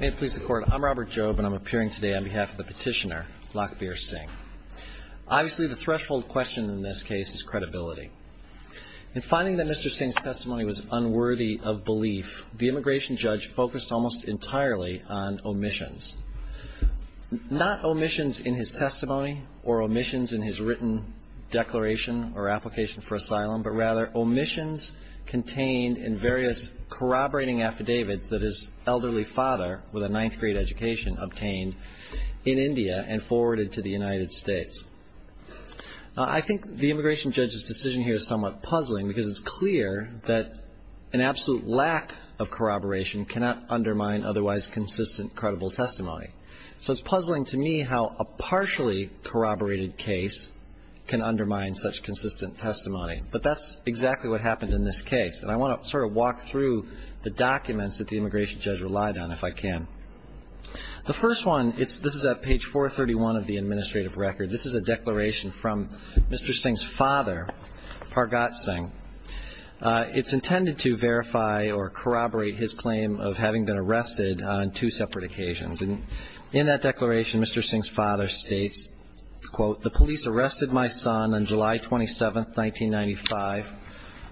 May it please the court, I'm Robert Jobe and I'm appearing today on behalf of the petitioner, Lakhbir Singh. Obviously the threshold question in this case is credibility. In finding that Mr. Singh's testimony was unworthy of belief, the immigration judge focused almost entirely on omissions. Not omissions in his testimony or omissions in his written declaration or application for asylum, but rather omissions contained in various corroborating affidavits that his elderly father with a ninth grade education obtained in India and forwarded to the United States. I think the immigration judge's decision here is somewhat puzzling because it's clear that an absolute lack of corroboration cannot undermine otherwise consistent credible testimony. So it's puzzling to me how a partially corroborated case can undermine such consistent testimony. But that's exactly what happened in this case. And I want to sort of walk through the documents that the immigration judge relied on, if I can. The first one, this is at page 431 of the administrative record. This is a declaration from Mr. Singh's father, Pargat Singh. It's intended to verify or corroborate his claim of having been arrested on two separate occasions. And in that declaration, Mr. Singh's father states, quote, the police arrested my son on July 27th, 1995,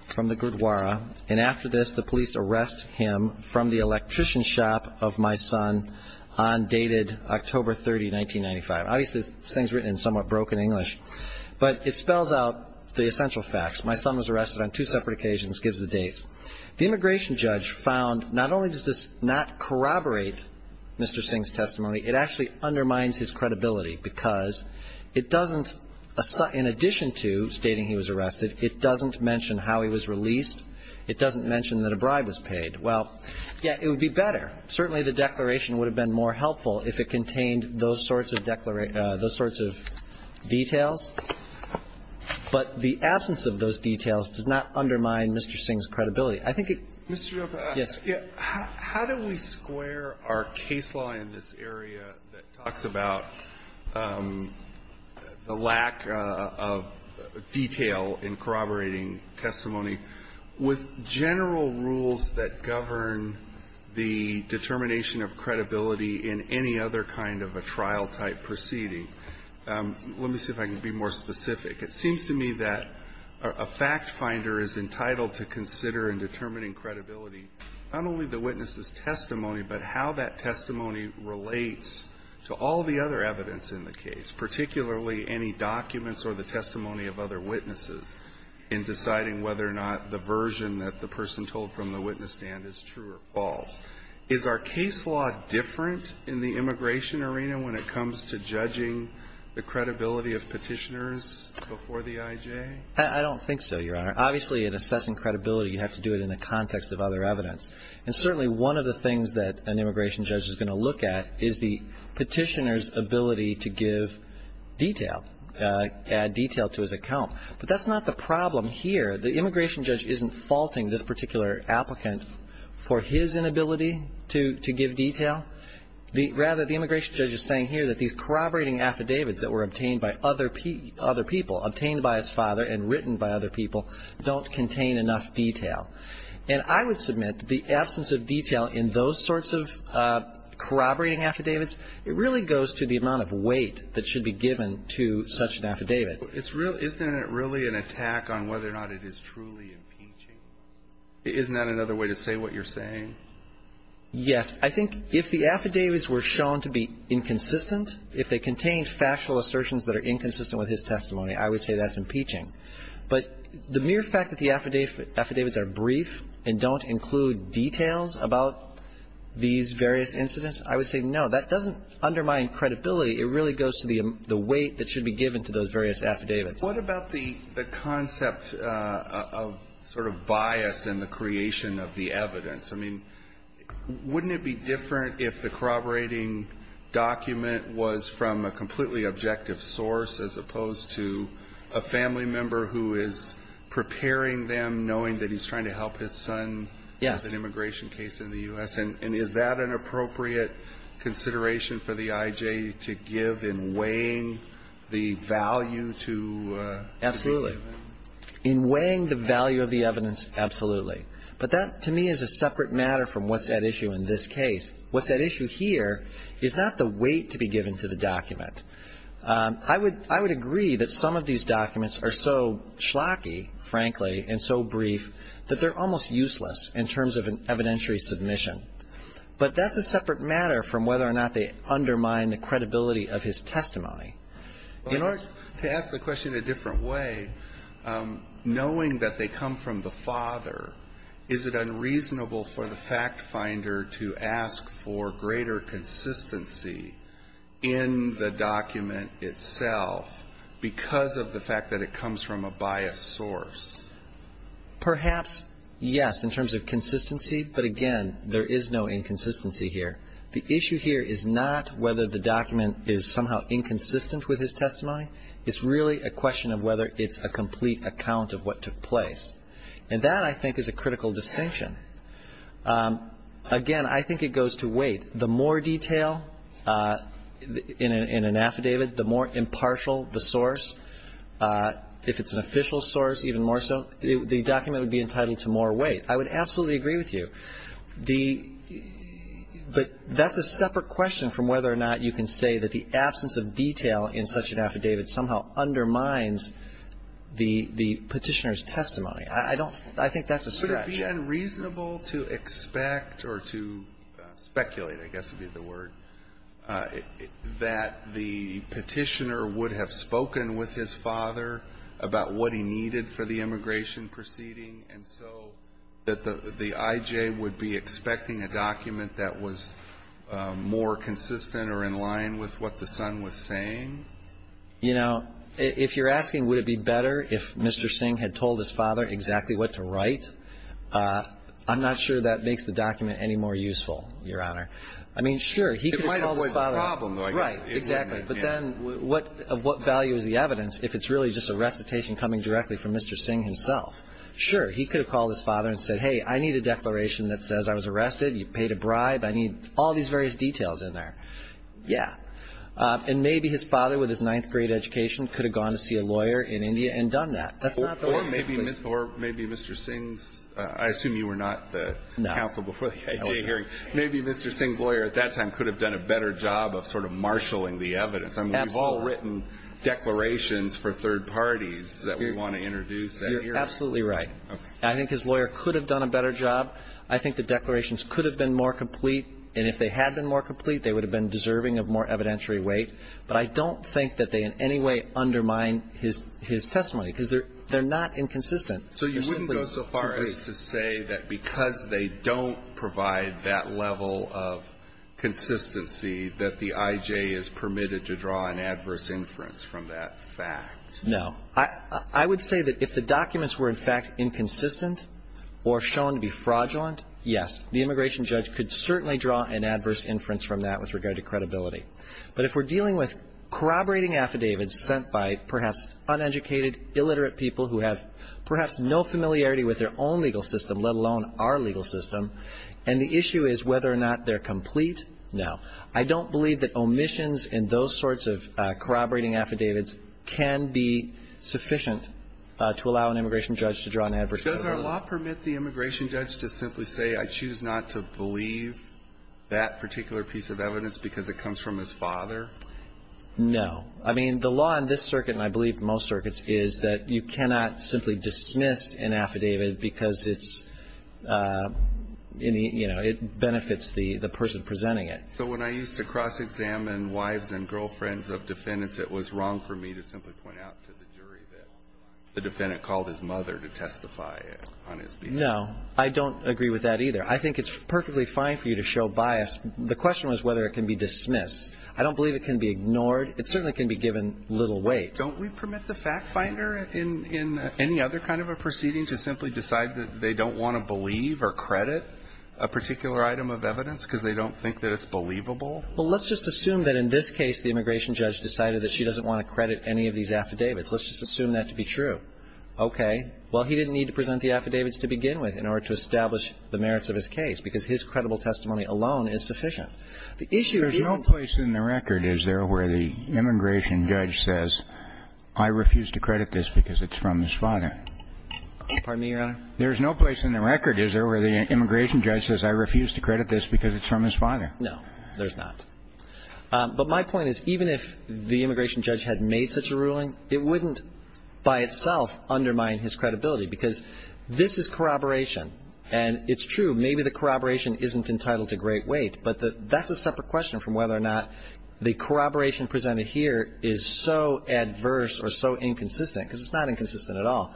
from the Gurdwara. And after this, the police arrest him from the electrician shop of my son on dated October 30, 1995. Obviously, this thing's written in somewhat broken English. But it spells out the essential facts. My son was arrested on two separate occasions, gives the dates. The immigration judge found not only does this not corroborate Mr. Singh's testimony, it actually undermines his credibility because it doesn't, in addition to stating he was arrested, it doesn't mention how he was released. It doesn't mention that a bribe was paid. Well, yes, it would be better. Certainly, the declaration would have been more helpful if it contained those sorts of declarations, those sorts of details. But the absence of those details does not undermine Mr. Singh's credibility. I think it goes back to the lack of detail in corroborating testimony. With general rules that govern the determination of credibility in any other kind of a trial-type proceeding, let me see if I can be more specific. It seems to me that a factfinder is entitled to consider in determining credibility not only the witness's testimony, but how that case, particularly any documents or the testimony of other witnesses, in deciding whether or not the version that the person told from the witness stand is true or false. Is our case law different in the immigration arena when it comes to judging the credibility of Petitioners before the I.J.? I don't think so, Your Honor. Obviously, in assessing credibility, you have to do it in the context of other evidence. And certainly, one of the things that an immigration judge is going to look at is the Petitioner's ability to give detail, add detail to his account. But that's not the problem here. The immigration judge isn't faulting this particular applicant for his inability to give detail. Rather, the immigration judge is saying here that these corroborating affidavits that were obtained by other people, obtained by his father and written by other people, don't contain enough detail. And I would submit that the absence of detail in those sorts of corroborating affidavits, it really goes to the amount of weight that should be given to such an affidavit. Isn't it really an attack on whether or not it is truly impeaching? Isn't that another way to say what you're saying? Yes. I think if the affidavits were shown to be inconsistent, if they contained factual assertions that are inconsistent with his testimony, I would say that's impeaching. But the mere fact that the affidavits are brief and don't include details about these various incidents, I would say, no, that doesn't undermine credibility. It really goes to the weight that should be given to those various affidavits. What about the concept of sort of bias in the creation of the evidence? I mean, wouldn't it be different if the corroborating document was from a completely objective source as opposed to a family member who is preparing them knowing that he's trying to help his son with an immigration case in the U.S.? Yes. And is that an appropriate consideration for the I.J. to give in weighing the value to the document? Absolutely. In weighing the value of the evidence, absolutely. But that, to me, is a separate matter from what's at issue in this case. What's at issue here is not the I would agree that some of these documents are so schlocky, frankly, and so brief that they're almost useless in terms of an evidentiary submission. But that's a separate matter from whether or not they undermine the credibility of his testimony. In order to ask the question in a different way, knowing that they come from the father, is it unreasonable for the fact finder to ask for greater consistency in the document itself because of the fact that it comes from a biased source? Perhaps, yes, in terms of consistency. But, again, there is no inconsistency here. The issue here is not whether the document is somehow inconsistent with his testimony. It's really a question of whether it's a complete account of what took place. And that, I think, is a critical distinction. Again, I think it goes to weight. The more detail in an affidavit, the more impartial the source, if it's an official source even more so, the document would be entitled to more weight. I would absolutely agree with you. But that's a separate question from whether or not you can say that the absence of detail in such an affidavit somehow undermines the petitioner's testimony. I think that's a stretch. Alito, would it be unreasonable to expect or to speculate, I guess would be the word, that the petitioner would have spoken with his father about what he needed for the immigration proceeding, and so that the I.J. would be expecting a document that was more consistent or in line with what the son was saying? You know, if you're asking would it be better if Mr. Singh had told his father exactly what to write, I'm not sure that makes the document any more useful, Your Honor. I mean, sure, he could have called his father up. It might avoid the problem, though, I guess. Right. Exactly. But then of what value is the evidence if it's really just a recitation coming directly from Mr. Singh himself? Sure, he could have called his father and said, hey, I need a declaration that says I was arrested, you paid a bribe, I need all these various details in there. Yeah. And maybe his father, with his ninth-grade education, could have gone to see a lawyer in India and done that. That's not the way to put it. Or maybe Mr. Singh's – I assume you were not the counsel before the IJ hearing. No. I was not. Maybe Mr. Singh's lawyer at that time could have done a better job of sort of marshalling the evidence. I mean, we've all written declarations for third parties that we want to introduce that year. You're absolutely right. Okay. I think his lawyer could have done a better job. I think the declarations could have been more complete, and if they had been more complete, they would have been deserving of more evidentiary weight. But I don't think that they in any way undermine his testimony, because they're not inconsistent So you wouldn't go so far as to say that because they don't provide that level of consistency that the IJ is permitted to draw an adverse inference from that fact? No. I would say that if the documents were, in fact, inconsistent or shown to be fraudulent, yes, the immigration judge could certainly draw an adverse inference from that with regard to credibility. But if we're dealing with corroborating affidavits sent by perhaps uneducated, illiterate people who have perhaps no familiarity with their own legal system, let alone our legal system, and the issue is whether or not they're complete, no. I don't believe that omissions in those sorts of corroborating affidavits can be sufficient to allow an immigration judge to draw an adverse evidence. Does our law permit the immigration judge to simply say, I choose not to believe that particular piece of evidence because it comes from his father? No. I mean, the law in this circuit, and I believe in most circuits, is that you cannot simply dismiss an affidavit because it's, you know, it benefits the person presenting it. So when I used to cross-examine wives and girlfriends of defendants, it was wrong for me to simply point out to the jury that the defendant called his mother to testify on his behalf? No. I don't agree with that either. I think it's perfectly fine for you to show bias. The question was whether it can be dismissed. I don't believe it can be ignored. It certainly can be given little weight. Don't we permit the fact finder in any other kind of a proceeding to simply decide that they don't want to believe or credit a particular item of evidence because they don't think that it's believable? Well, let's just assume that in this case the immigration judge decided that she doesn't want to credit any of these affidavits. Let's just assume that to be true. Okay. Well, he didn't need to present the affidavits to begin with in order to establish the merits of his case, because his credible testimony alone is sufficient. The issue isn't to say that the immigration judge said, I refuse to credit this because it's from his father. Pardon me, Your Honor? There's no place in the record, is there, where the immigration judge says, I refuse to credit this because it's from his father? No, there's not. But my point is, even if the immigration judge had made such a ruling, it wouldn't by itself undermine his credibility, because this is corroboration. And it's true, maybe the corroboration isn't entitled to great weight, but that's a separate question from whether or not the corroboration presented here is so adverse or so inconsistent, because it's not inconsistent at all,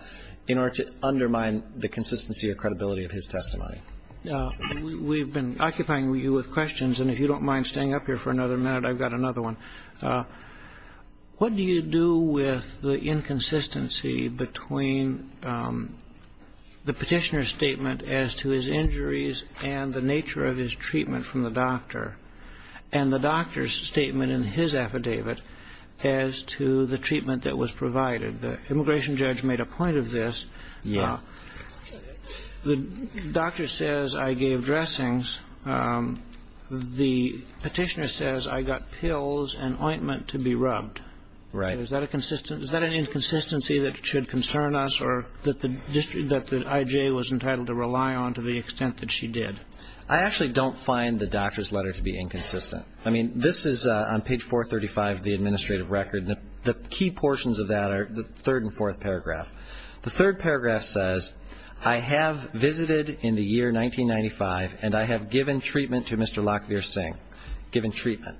in order to undermine the consistency or credibility of his testimony. We've been occupying you with questions, and if you don't mind staying up here for another minute, I've got another one. What do you do with the inconsistency between the petitioner's statement as to his injuries and the nature of his treatment from the doctor, and the doctor's statement in his affidavit as to the treatment that was provided? The immigration judge made a point of this. The doctor says, I gave dressings. The petitioner says, I got pills and ointment to be rubbed. Is that an inconsistency that should concern us, or that the IJ was entitled to rely on to the extent that she did? I actually don't find the doctor's letter to be inconsistent. I mean, this is on page 435 of the administrative record, and the key portions of that are the third and fourth paragraph. The third paragraph says, I have visited in the year 1995, and I have given treatment to Mr. Lokveer Singh. Given treatment.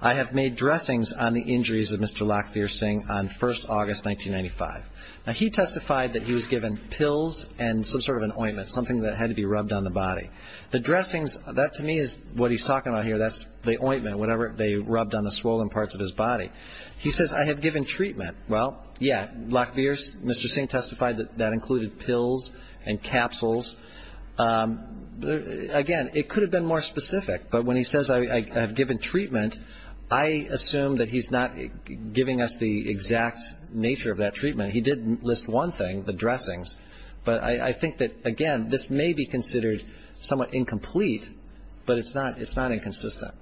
I have made dressings on the injuries of Mr. Lokveer Singh on 1st August, 1995. Now, he testified that he was given pills and some sort of an ointment, something that had to be rubbed on the body. The dressings, that to me is what he's talking about here. That's the ointment, whatever they rubbed on the swollen parts of his body. He says, I have given treatment. Well, yeah, Lokveer, Mr. Singh testified that that included pills and capsules. Again, it could have been more specific, but when he says, I have given treatment, I assume that he's not giving us the exact nature of that treatment. He did list one thing, the dressings, but I think that, again, this may be considered somewhat incomplete, but it's not inconsistent.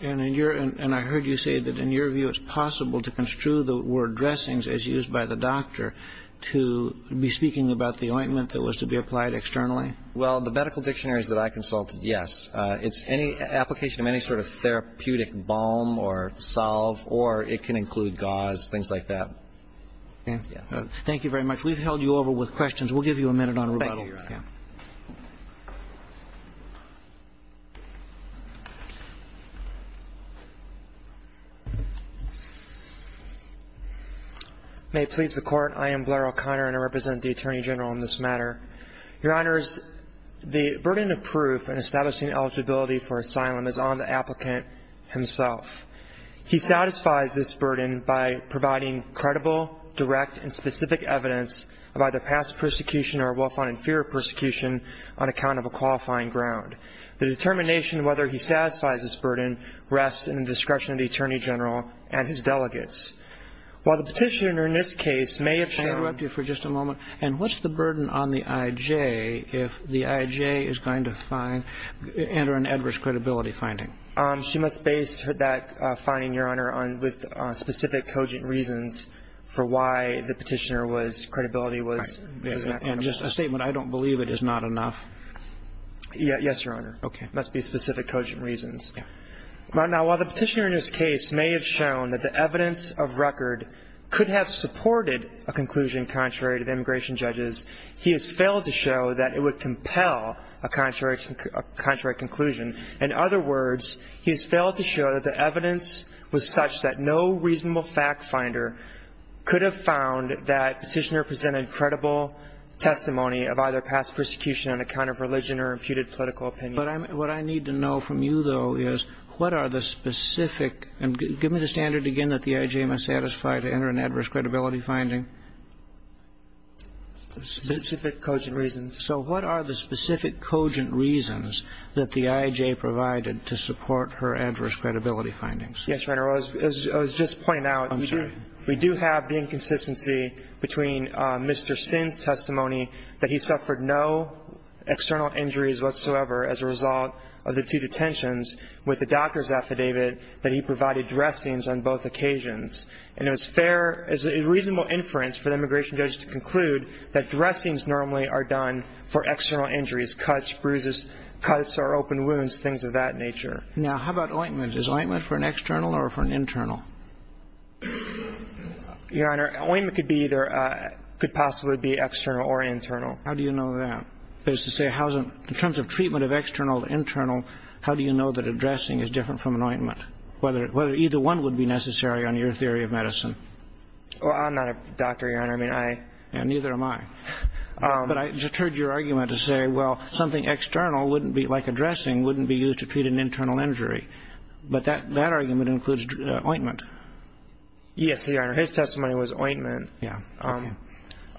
And I heard you say that in your view it's possible to construe the word dressings as an ointment that was to be applied externally? Well, the medical dictionaries that I consulted, yes. It's any application of any sort of therapeutic balm or salve or it can include gauze, things like that. Thank you very much. We've held you over with questions. We'll give you a minute on rebuttal. May it please the Court, I am Blair O'Connor and I represent the Attorney General on this matter. Your Honors, the burden of proof in establishing eligibility for asylum is on the applicant himself. He satisfies this burden by providing credible, direct, and specific evidence of either past persecution or a well-founded fear of persecution on account of a qualifying ground. The determination of whether he satisfies this burden rests in the discretion of the Attorney General and his delegates. While the Petitioner in this case may have shown May I interrupt you for just a moment? And what's the burden on the I.J. if the I.J. is going to find, enter an adverse credibility finding? She must base that finding, Your Honor, with specific cogent reasons for why the Petitioner was, credibility was, and just a statement, I don't believe it, is not enough. Yes, Your Honor, must be specific cogent reasons. Now, while the Petitioner in this case may have shown that the evidence of record could have supported a conclusion contrary to the immigration judges, he has failed to show that it would compel a contrary conclusion. In other words, he has failed to show that the evidence was such that no reasonable fact finder could have found that the Petitioner presented credible testimony of either past persecution on account of religion or imputed political opinion. But what I need to know from you, though, is what are the specific – and give me the standard again that the I.J. must satisfy to enter an adverse credibility finding? Specific cogent reasons. So what are the specific cogent reasons that the I.J. provided to support her adverse credibility findings? Yes, Your Honor. I was just pointing out we do have the inconsistency between Mr. Sinn's testimony that he suffered no external injuries whatsoever as a result of the two detentions with the doctor's affidavit that he provided dressings on both occasions. And it was fair – it was a reasonable inference for the immigration judge to conclude that dressings normally are done for external injuries, cuts, bruises, cuts or open wounds, things of that nature. Now, how about ointment? Is ointment for an external or for an internal? Your Honor, ointment could be either – could possibly be external or internal. How do you know that? That is to say, how is it – in terms of treatment of external to internal, how do you know that a dressing is different from an ointment, whether either one would be necessary on your theory of medicine? Well, I'm not a doctor, Your Honor. I mean, I – And neither am I. But I just heard your argument to say, well, something external wouldn't be – like a dressing wouldn't be used to treat an internal injury. But that argument includes ointment. Yes, Your Honor. His testimony was ointment. Yeah. Okay.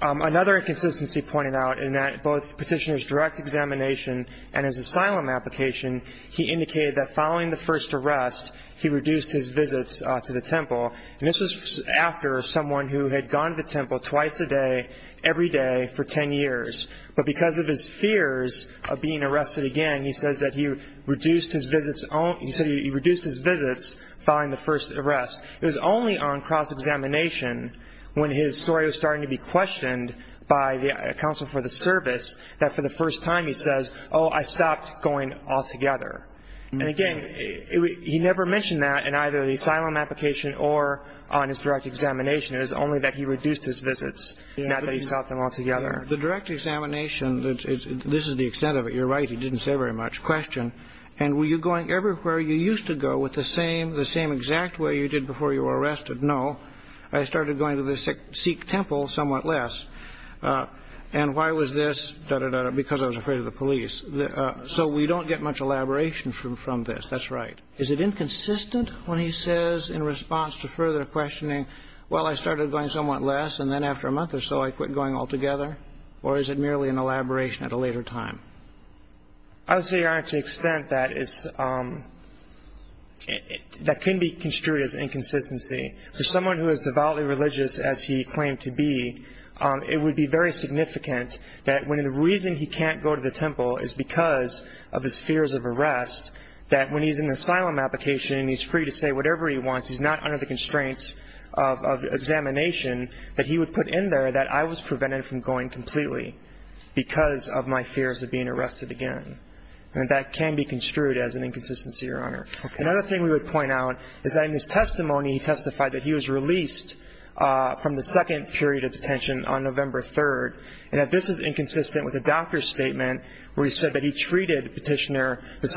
Another inconsistency pointed out in that both Petitioner's direct examination and his asylum application, he indicated that following the first arrest, he reduced his visits to the temple. And this was after someone who had gone to the temple twice a day, every day, for 10 years. But because of his fears of being arrested again, he says that he reduced his visits – he said he reduced his visits following the first arrest. It was only on cross-examination when his story was starting to be questioned by the Counsel for the Service that for the first time he says, oh, I stopped going altogether. And again, he never mentioned that in either the asylum application or on his direct examination. It was only that he reduced his visits, not that he stopped them altogether. The direct examination, this is the extent of it. You're right. He didn't say very much. Question. And were you going everywhere you used to go with the same – the same exact way you did before you were arrested? No. I started going to the Sikh temple somewhat less. And why was this? Da-da-da-da. Because I was afraid of the police. So we don't get much elaboration from this. That's right. Is it inconsistent when he says, in response to further questioning, well, I started going somewhat less and then after a month or so I quit going altogether? Or is it merely an elaboration at a later time? I would say, Your Honor, to the extent that is – that can be construed as inconsistency. For someone who is devoutly religious as he claimed to be, it would be very significant that when the reason he can't go to the temple is because of his fears of arrest, that when he's in an asylum application and he's free to say whatever he wants, he's not under the constraints of examination, that he would put in there that I was prevented from going completely because of my fears of being arrested again. And that can be construed as an inconsistency, Your Honor. Okay. Another thing we would point out is that in his testimony, he testified that he was released from the second period of detention on November 3rd, and that this is the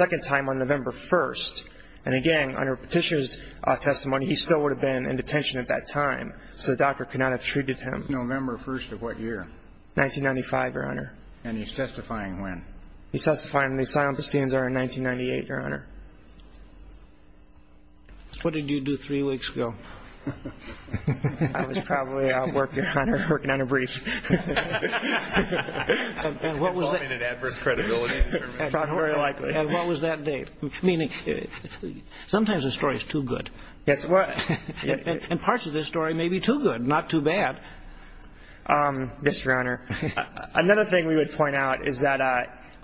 second time on November 1st. And again, under Petitioner's testimony, he still would have been in detention at that time, so the doctor could not have treated him. November 1st of what year? 1995, Your Honor. And he's testifying when? He's testifying in the Asylum of Basenza in 1998, Your Honor. What did you do three weeks ago? I was probably out working, Your Honor, working on a brief. And what was that date? Sometimes a story is too good. Yes, sir. And parts of this story may be too good, not too bad. Yes, Your Honor. Another thing we would point out is that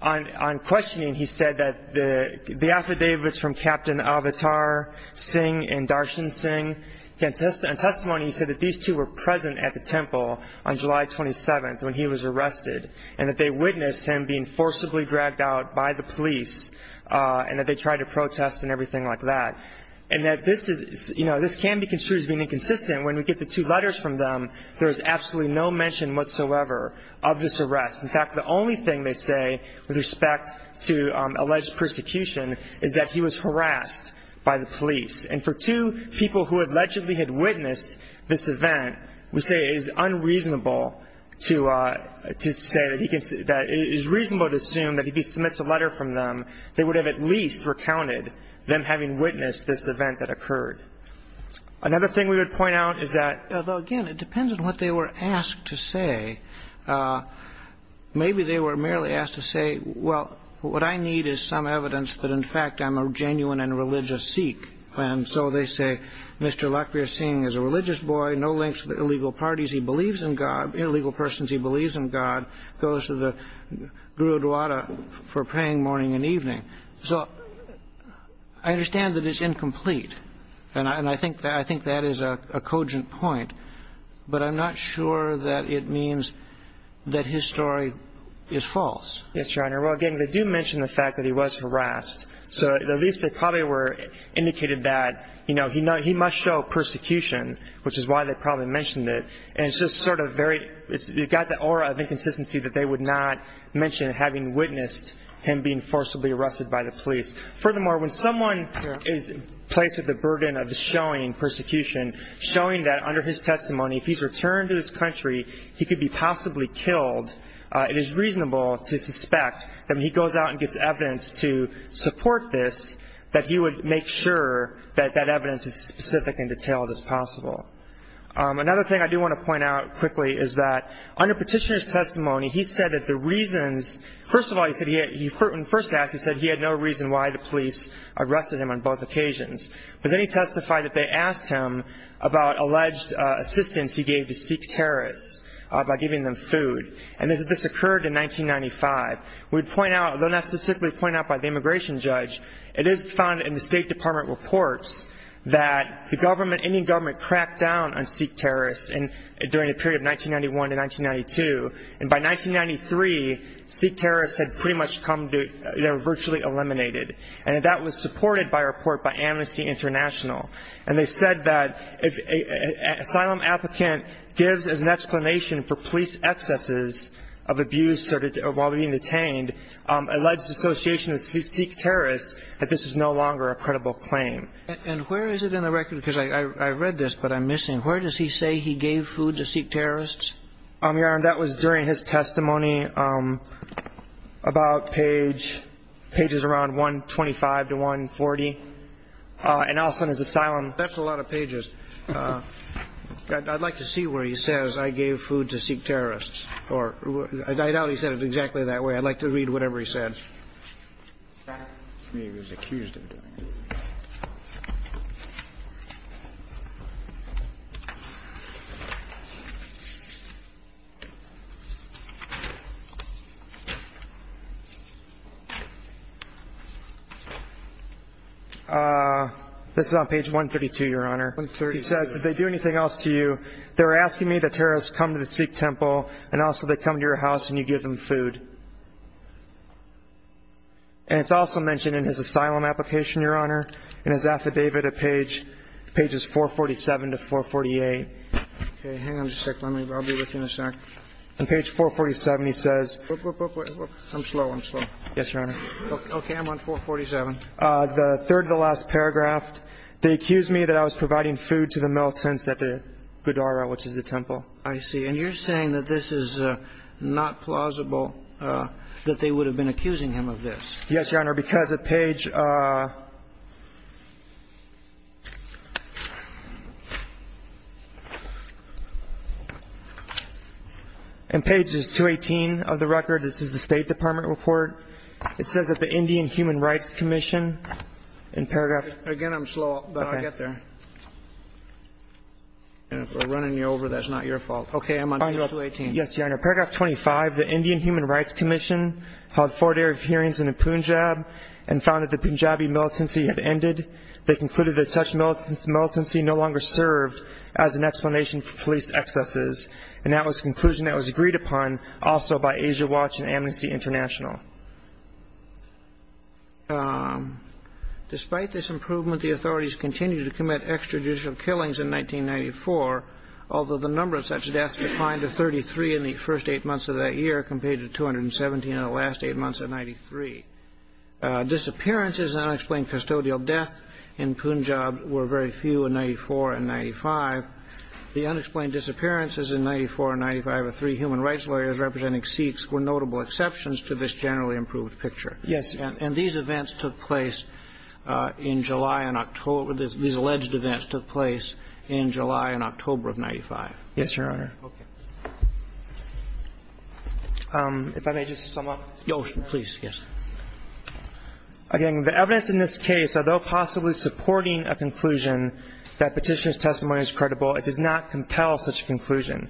on questioning, he said that the affidavits from Captain Avatar Singh and Darshan Singh, in testimony he said that these two were present at the temple on July 27th when he was arrested, and that they witnessed him being forcibly dragged out by the police, and that they tried to protest and everything like that. And that this is, you know, this can be construed as being inconsistent when we get the two letters from them, there is absolutely no mention whatsoever of this arrest. In fact, the only thing they say with respect to alleged persecution is that he was harassed by the police. And for two people who allegedly had witnessed this event, we say it is unreasonable to say that he can say that it is reasonable to assume that if he submits a letter from them, they would have at least recounted them having witnessed this event that occurred. Another thing we would point out is that, though, again, it depends on what they were asked to say. Maybe they were merely asked to say, well, what I need is some evidence that, in fact, I'm a genuine and religious Sikh. And so they say, Mr. Lakbir Singh is a religious boy, no links to the illegal parties he believes in God, illegal persons he believes in God, goes to the Gurudwara for praying morning and evening. So I understand that it's incomplete, and I think that is a cogent point, but I'm not sure that it means that his story is false. Yes, Your Honor. Well, again, they do mention the fact that he was harassed. So at least they probably were indicated that, you know, he must show persecution, which is why they probably mentioned it. And it's just sort of very, it's got the aura of inconsistency that they would not mention having witnessed him being forcibly arrested by the police. Furthermore, when someone is placed with the burden of showing persecution, showing that under his testimony, if he's returned to this country, he could be possibly killed, it is reasonable to suspect that when he goes out and gets evidence to support this, that he would make sure that that evidence is as specific and detailed as possible. Another thing I do want to point out quickly is that under Petitioner's testimony, he said that the reasons, first of all, when first asked, he said he had no reason why the police arrested him on both occasions. But then he testified that they asked him about alleged assistance he gave to Sikh terrorists by giving them food. And this occurred in 1995. We point out, though not specifically pointed out by the immigration judge, it is found in the State Department reports that the government, Indian government, cracked down on Sikh terrorists during the period of 1991 to 1992. And by 1993, Sikh terrorists had pretty much come to, they were virtually eliminated. And that was supported by a report by Amnesty International. And they said that if an asylum applicant gives as an explanation for police excesses of abuse while being detained, alleged association of Sikh terrorists, that this is no longer a credible claim. And where is it in the record? Because I read this, but I'm missing. Where does he say he gave food to Sikh terrorists? That was during his testimony about page, pages around 125 to 140. And also in his asylum. That's a lot of pages. I'd like to see where he says I gave food to Sikh terrorists. Or I doubt he said it exactly that way. I'd like to read whatever he said. This is on page 132, Your Honor. He says, did they do anything else to you? They were asking me that terrorists come to the Sikh temple and also they come to your house and you give them food. And it's also mentioned in his asylum application, Your Honor, in his affidavit at page, pages 447 to 448. And page 447, he says, I'm slow. I'm slow. Yes, Your Honor. Okay. I'm on 447. The third of the last paragraph, they accused me that I was providing food to the militants at the Gurdwara, which is the temple. I see. And you're saying that this is not plausible, that they would have been there. And pages 218 of the record, this is the State Department report. It says that the Indian Human Rights Commission, in paragraph... Again, I'm slow, but I'll get there. And if we're running you over, that's not your fault. Okay. I'm on page 218. Yes, Your Honor. Paragraph 25, the Indian Human Rights Commission held four day of hearings in Punjab and found that the Punjabi militancy had ended. They concluded that such militancy no longer served as an explanation for police excesses. And that was the conclusion that was agreed upon also by Asia Watch and Amnesty International. Despite this improvement, the authorities continued to commit extrajudicial killings in 1994, although the number of such deaths declined to 33 in the first eight months of that year compared to 217 in the last eight months of 1993. Disappearances and unexplained custodial death in Punjab were very few in 94 and 95. The unexplained disappearances in 94 and 95 of three human rights lawyers representing Sikhs were notable exceptions to this generally improved picture. Yes. And these events took place in July and October. These alleged events took place in July and October of 95. Yes, Your Honor. Okay. If I may just sum up... Yes, please. Yes. Again, the evidence in this case, although possibly supporting a conclusion that Petitioner's testimony is credible, it does not compel such a conclusion.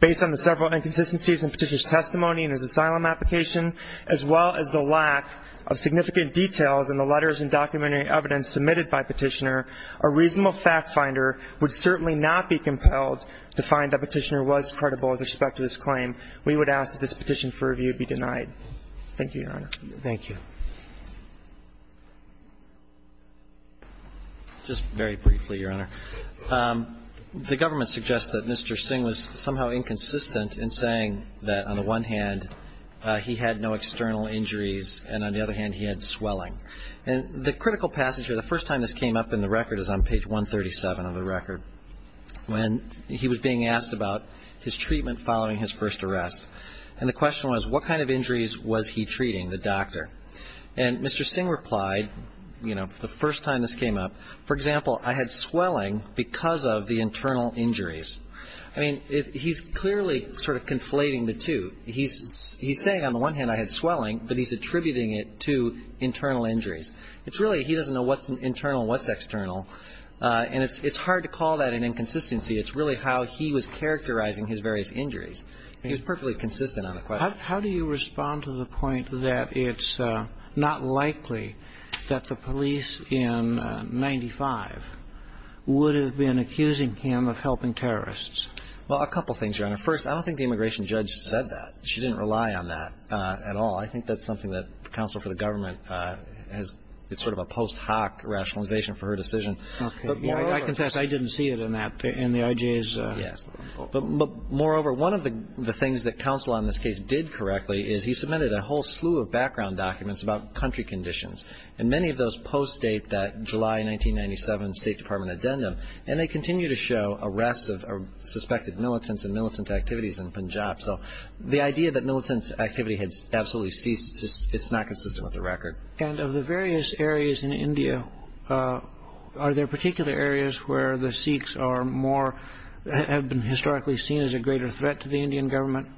Based on the several inconsistencies in Petitioner's testimony in his asylum application, as well as the lack of significant details in the letters and documentary evidence submitted by Petitioner, a reasonable factfinder would certainly not be compelled to find that Petitioner was credible with respect to this claim. We would ask that this case be reviewed. Thank you, Your Honor. Thank you. Just very briefly, Your Honor. The government suggests that Mr. Singh was somehow inconsistent in saying that, on the one hand, he had no external injuries, and on the other hand, he had swelling. And the critical passage here, the first time this came up in the record is on page 137 of the record, when he was being asked about his treatment following his first arrest. And the question was, what kind of injuries was he treating, the doctor? And Mr. Singh replied, you know, the first time this came up, for example, I had swelling because of the internal injuries. I mean, he's clearly sort of conflating the two. He's saying, on the one hand, I had swelling, but he's attributing it to internal injuries. It's really, he doesn't know what's internal and what's external. And it's hard to call that an inconsistency. It's really how he was characterizing his various injuries. He was perfectly consistent on the question. How do you respond to the point that it's not likely that the police in 1995 would have been accusing him of helping terrorists? Well, a couple things, Your Honor. First, I don't think the immigration judge said that. She did, in fact, give a pretty stark rationalization for her decision. But moreover, I confess, I didn't see it in that, in the IJ's report. Yes. But moreover, one of the things that counsel on this case did correctly is he submitted a whole slew of background documents about country conditions. And many of those post-date that July 1997 State Department addendum, and they continue to show arrests of suspected militants and militant activities in Punjab. So the idea that militant activity had absolutely ceased, it's not consistent with the record. And of the various areas in India, are there particular areas where the Sikhs are more, have been historically seen as a greater threat to the Indian government?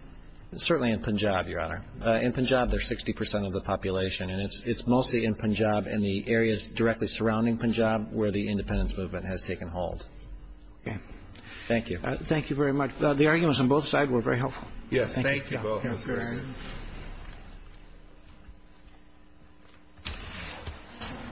Certainly in Punjab, Your Honor. In Punjab, they're 60 percent of the population. And it's mostly in Punjab and the areas directly surrounding Punjab where the independence movement has taken hold. Okay. Thank you. Thank you very much. The arguments on both sides were very helpful. Yes. Thank you both.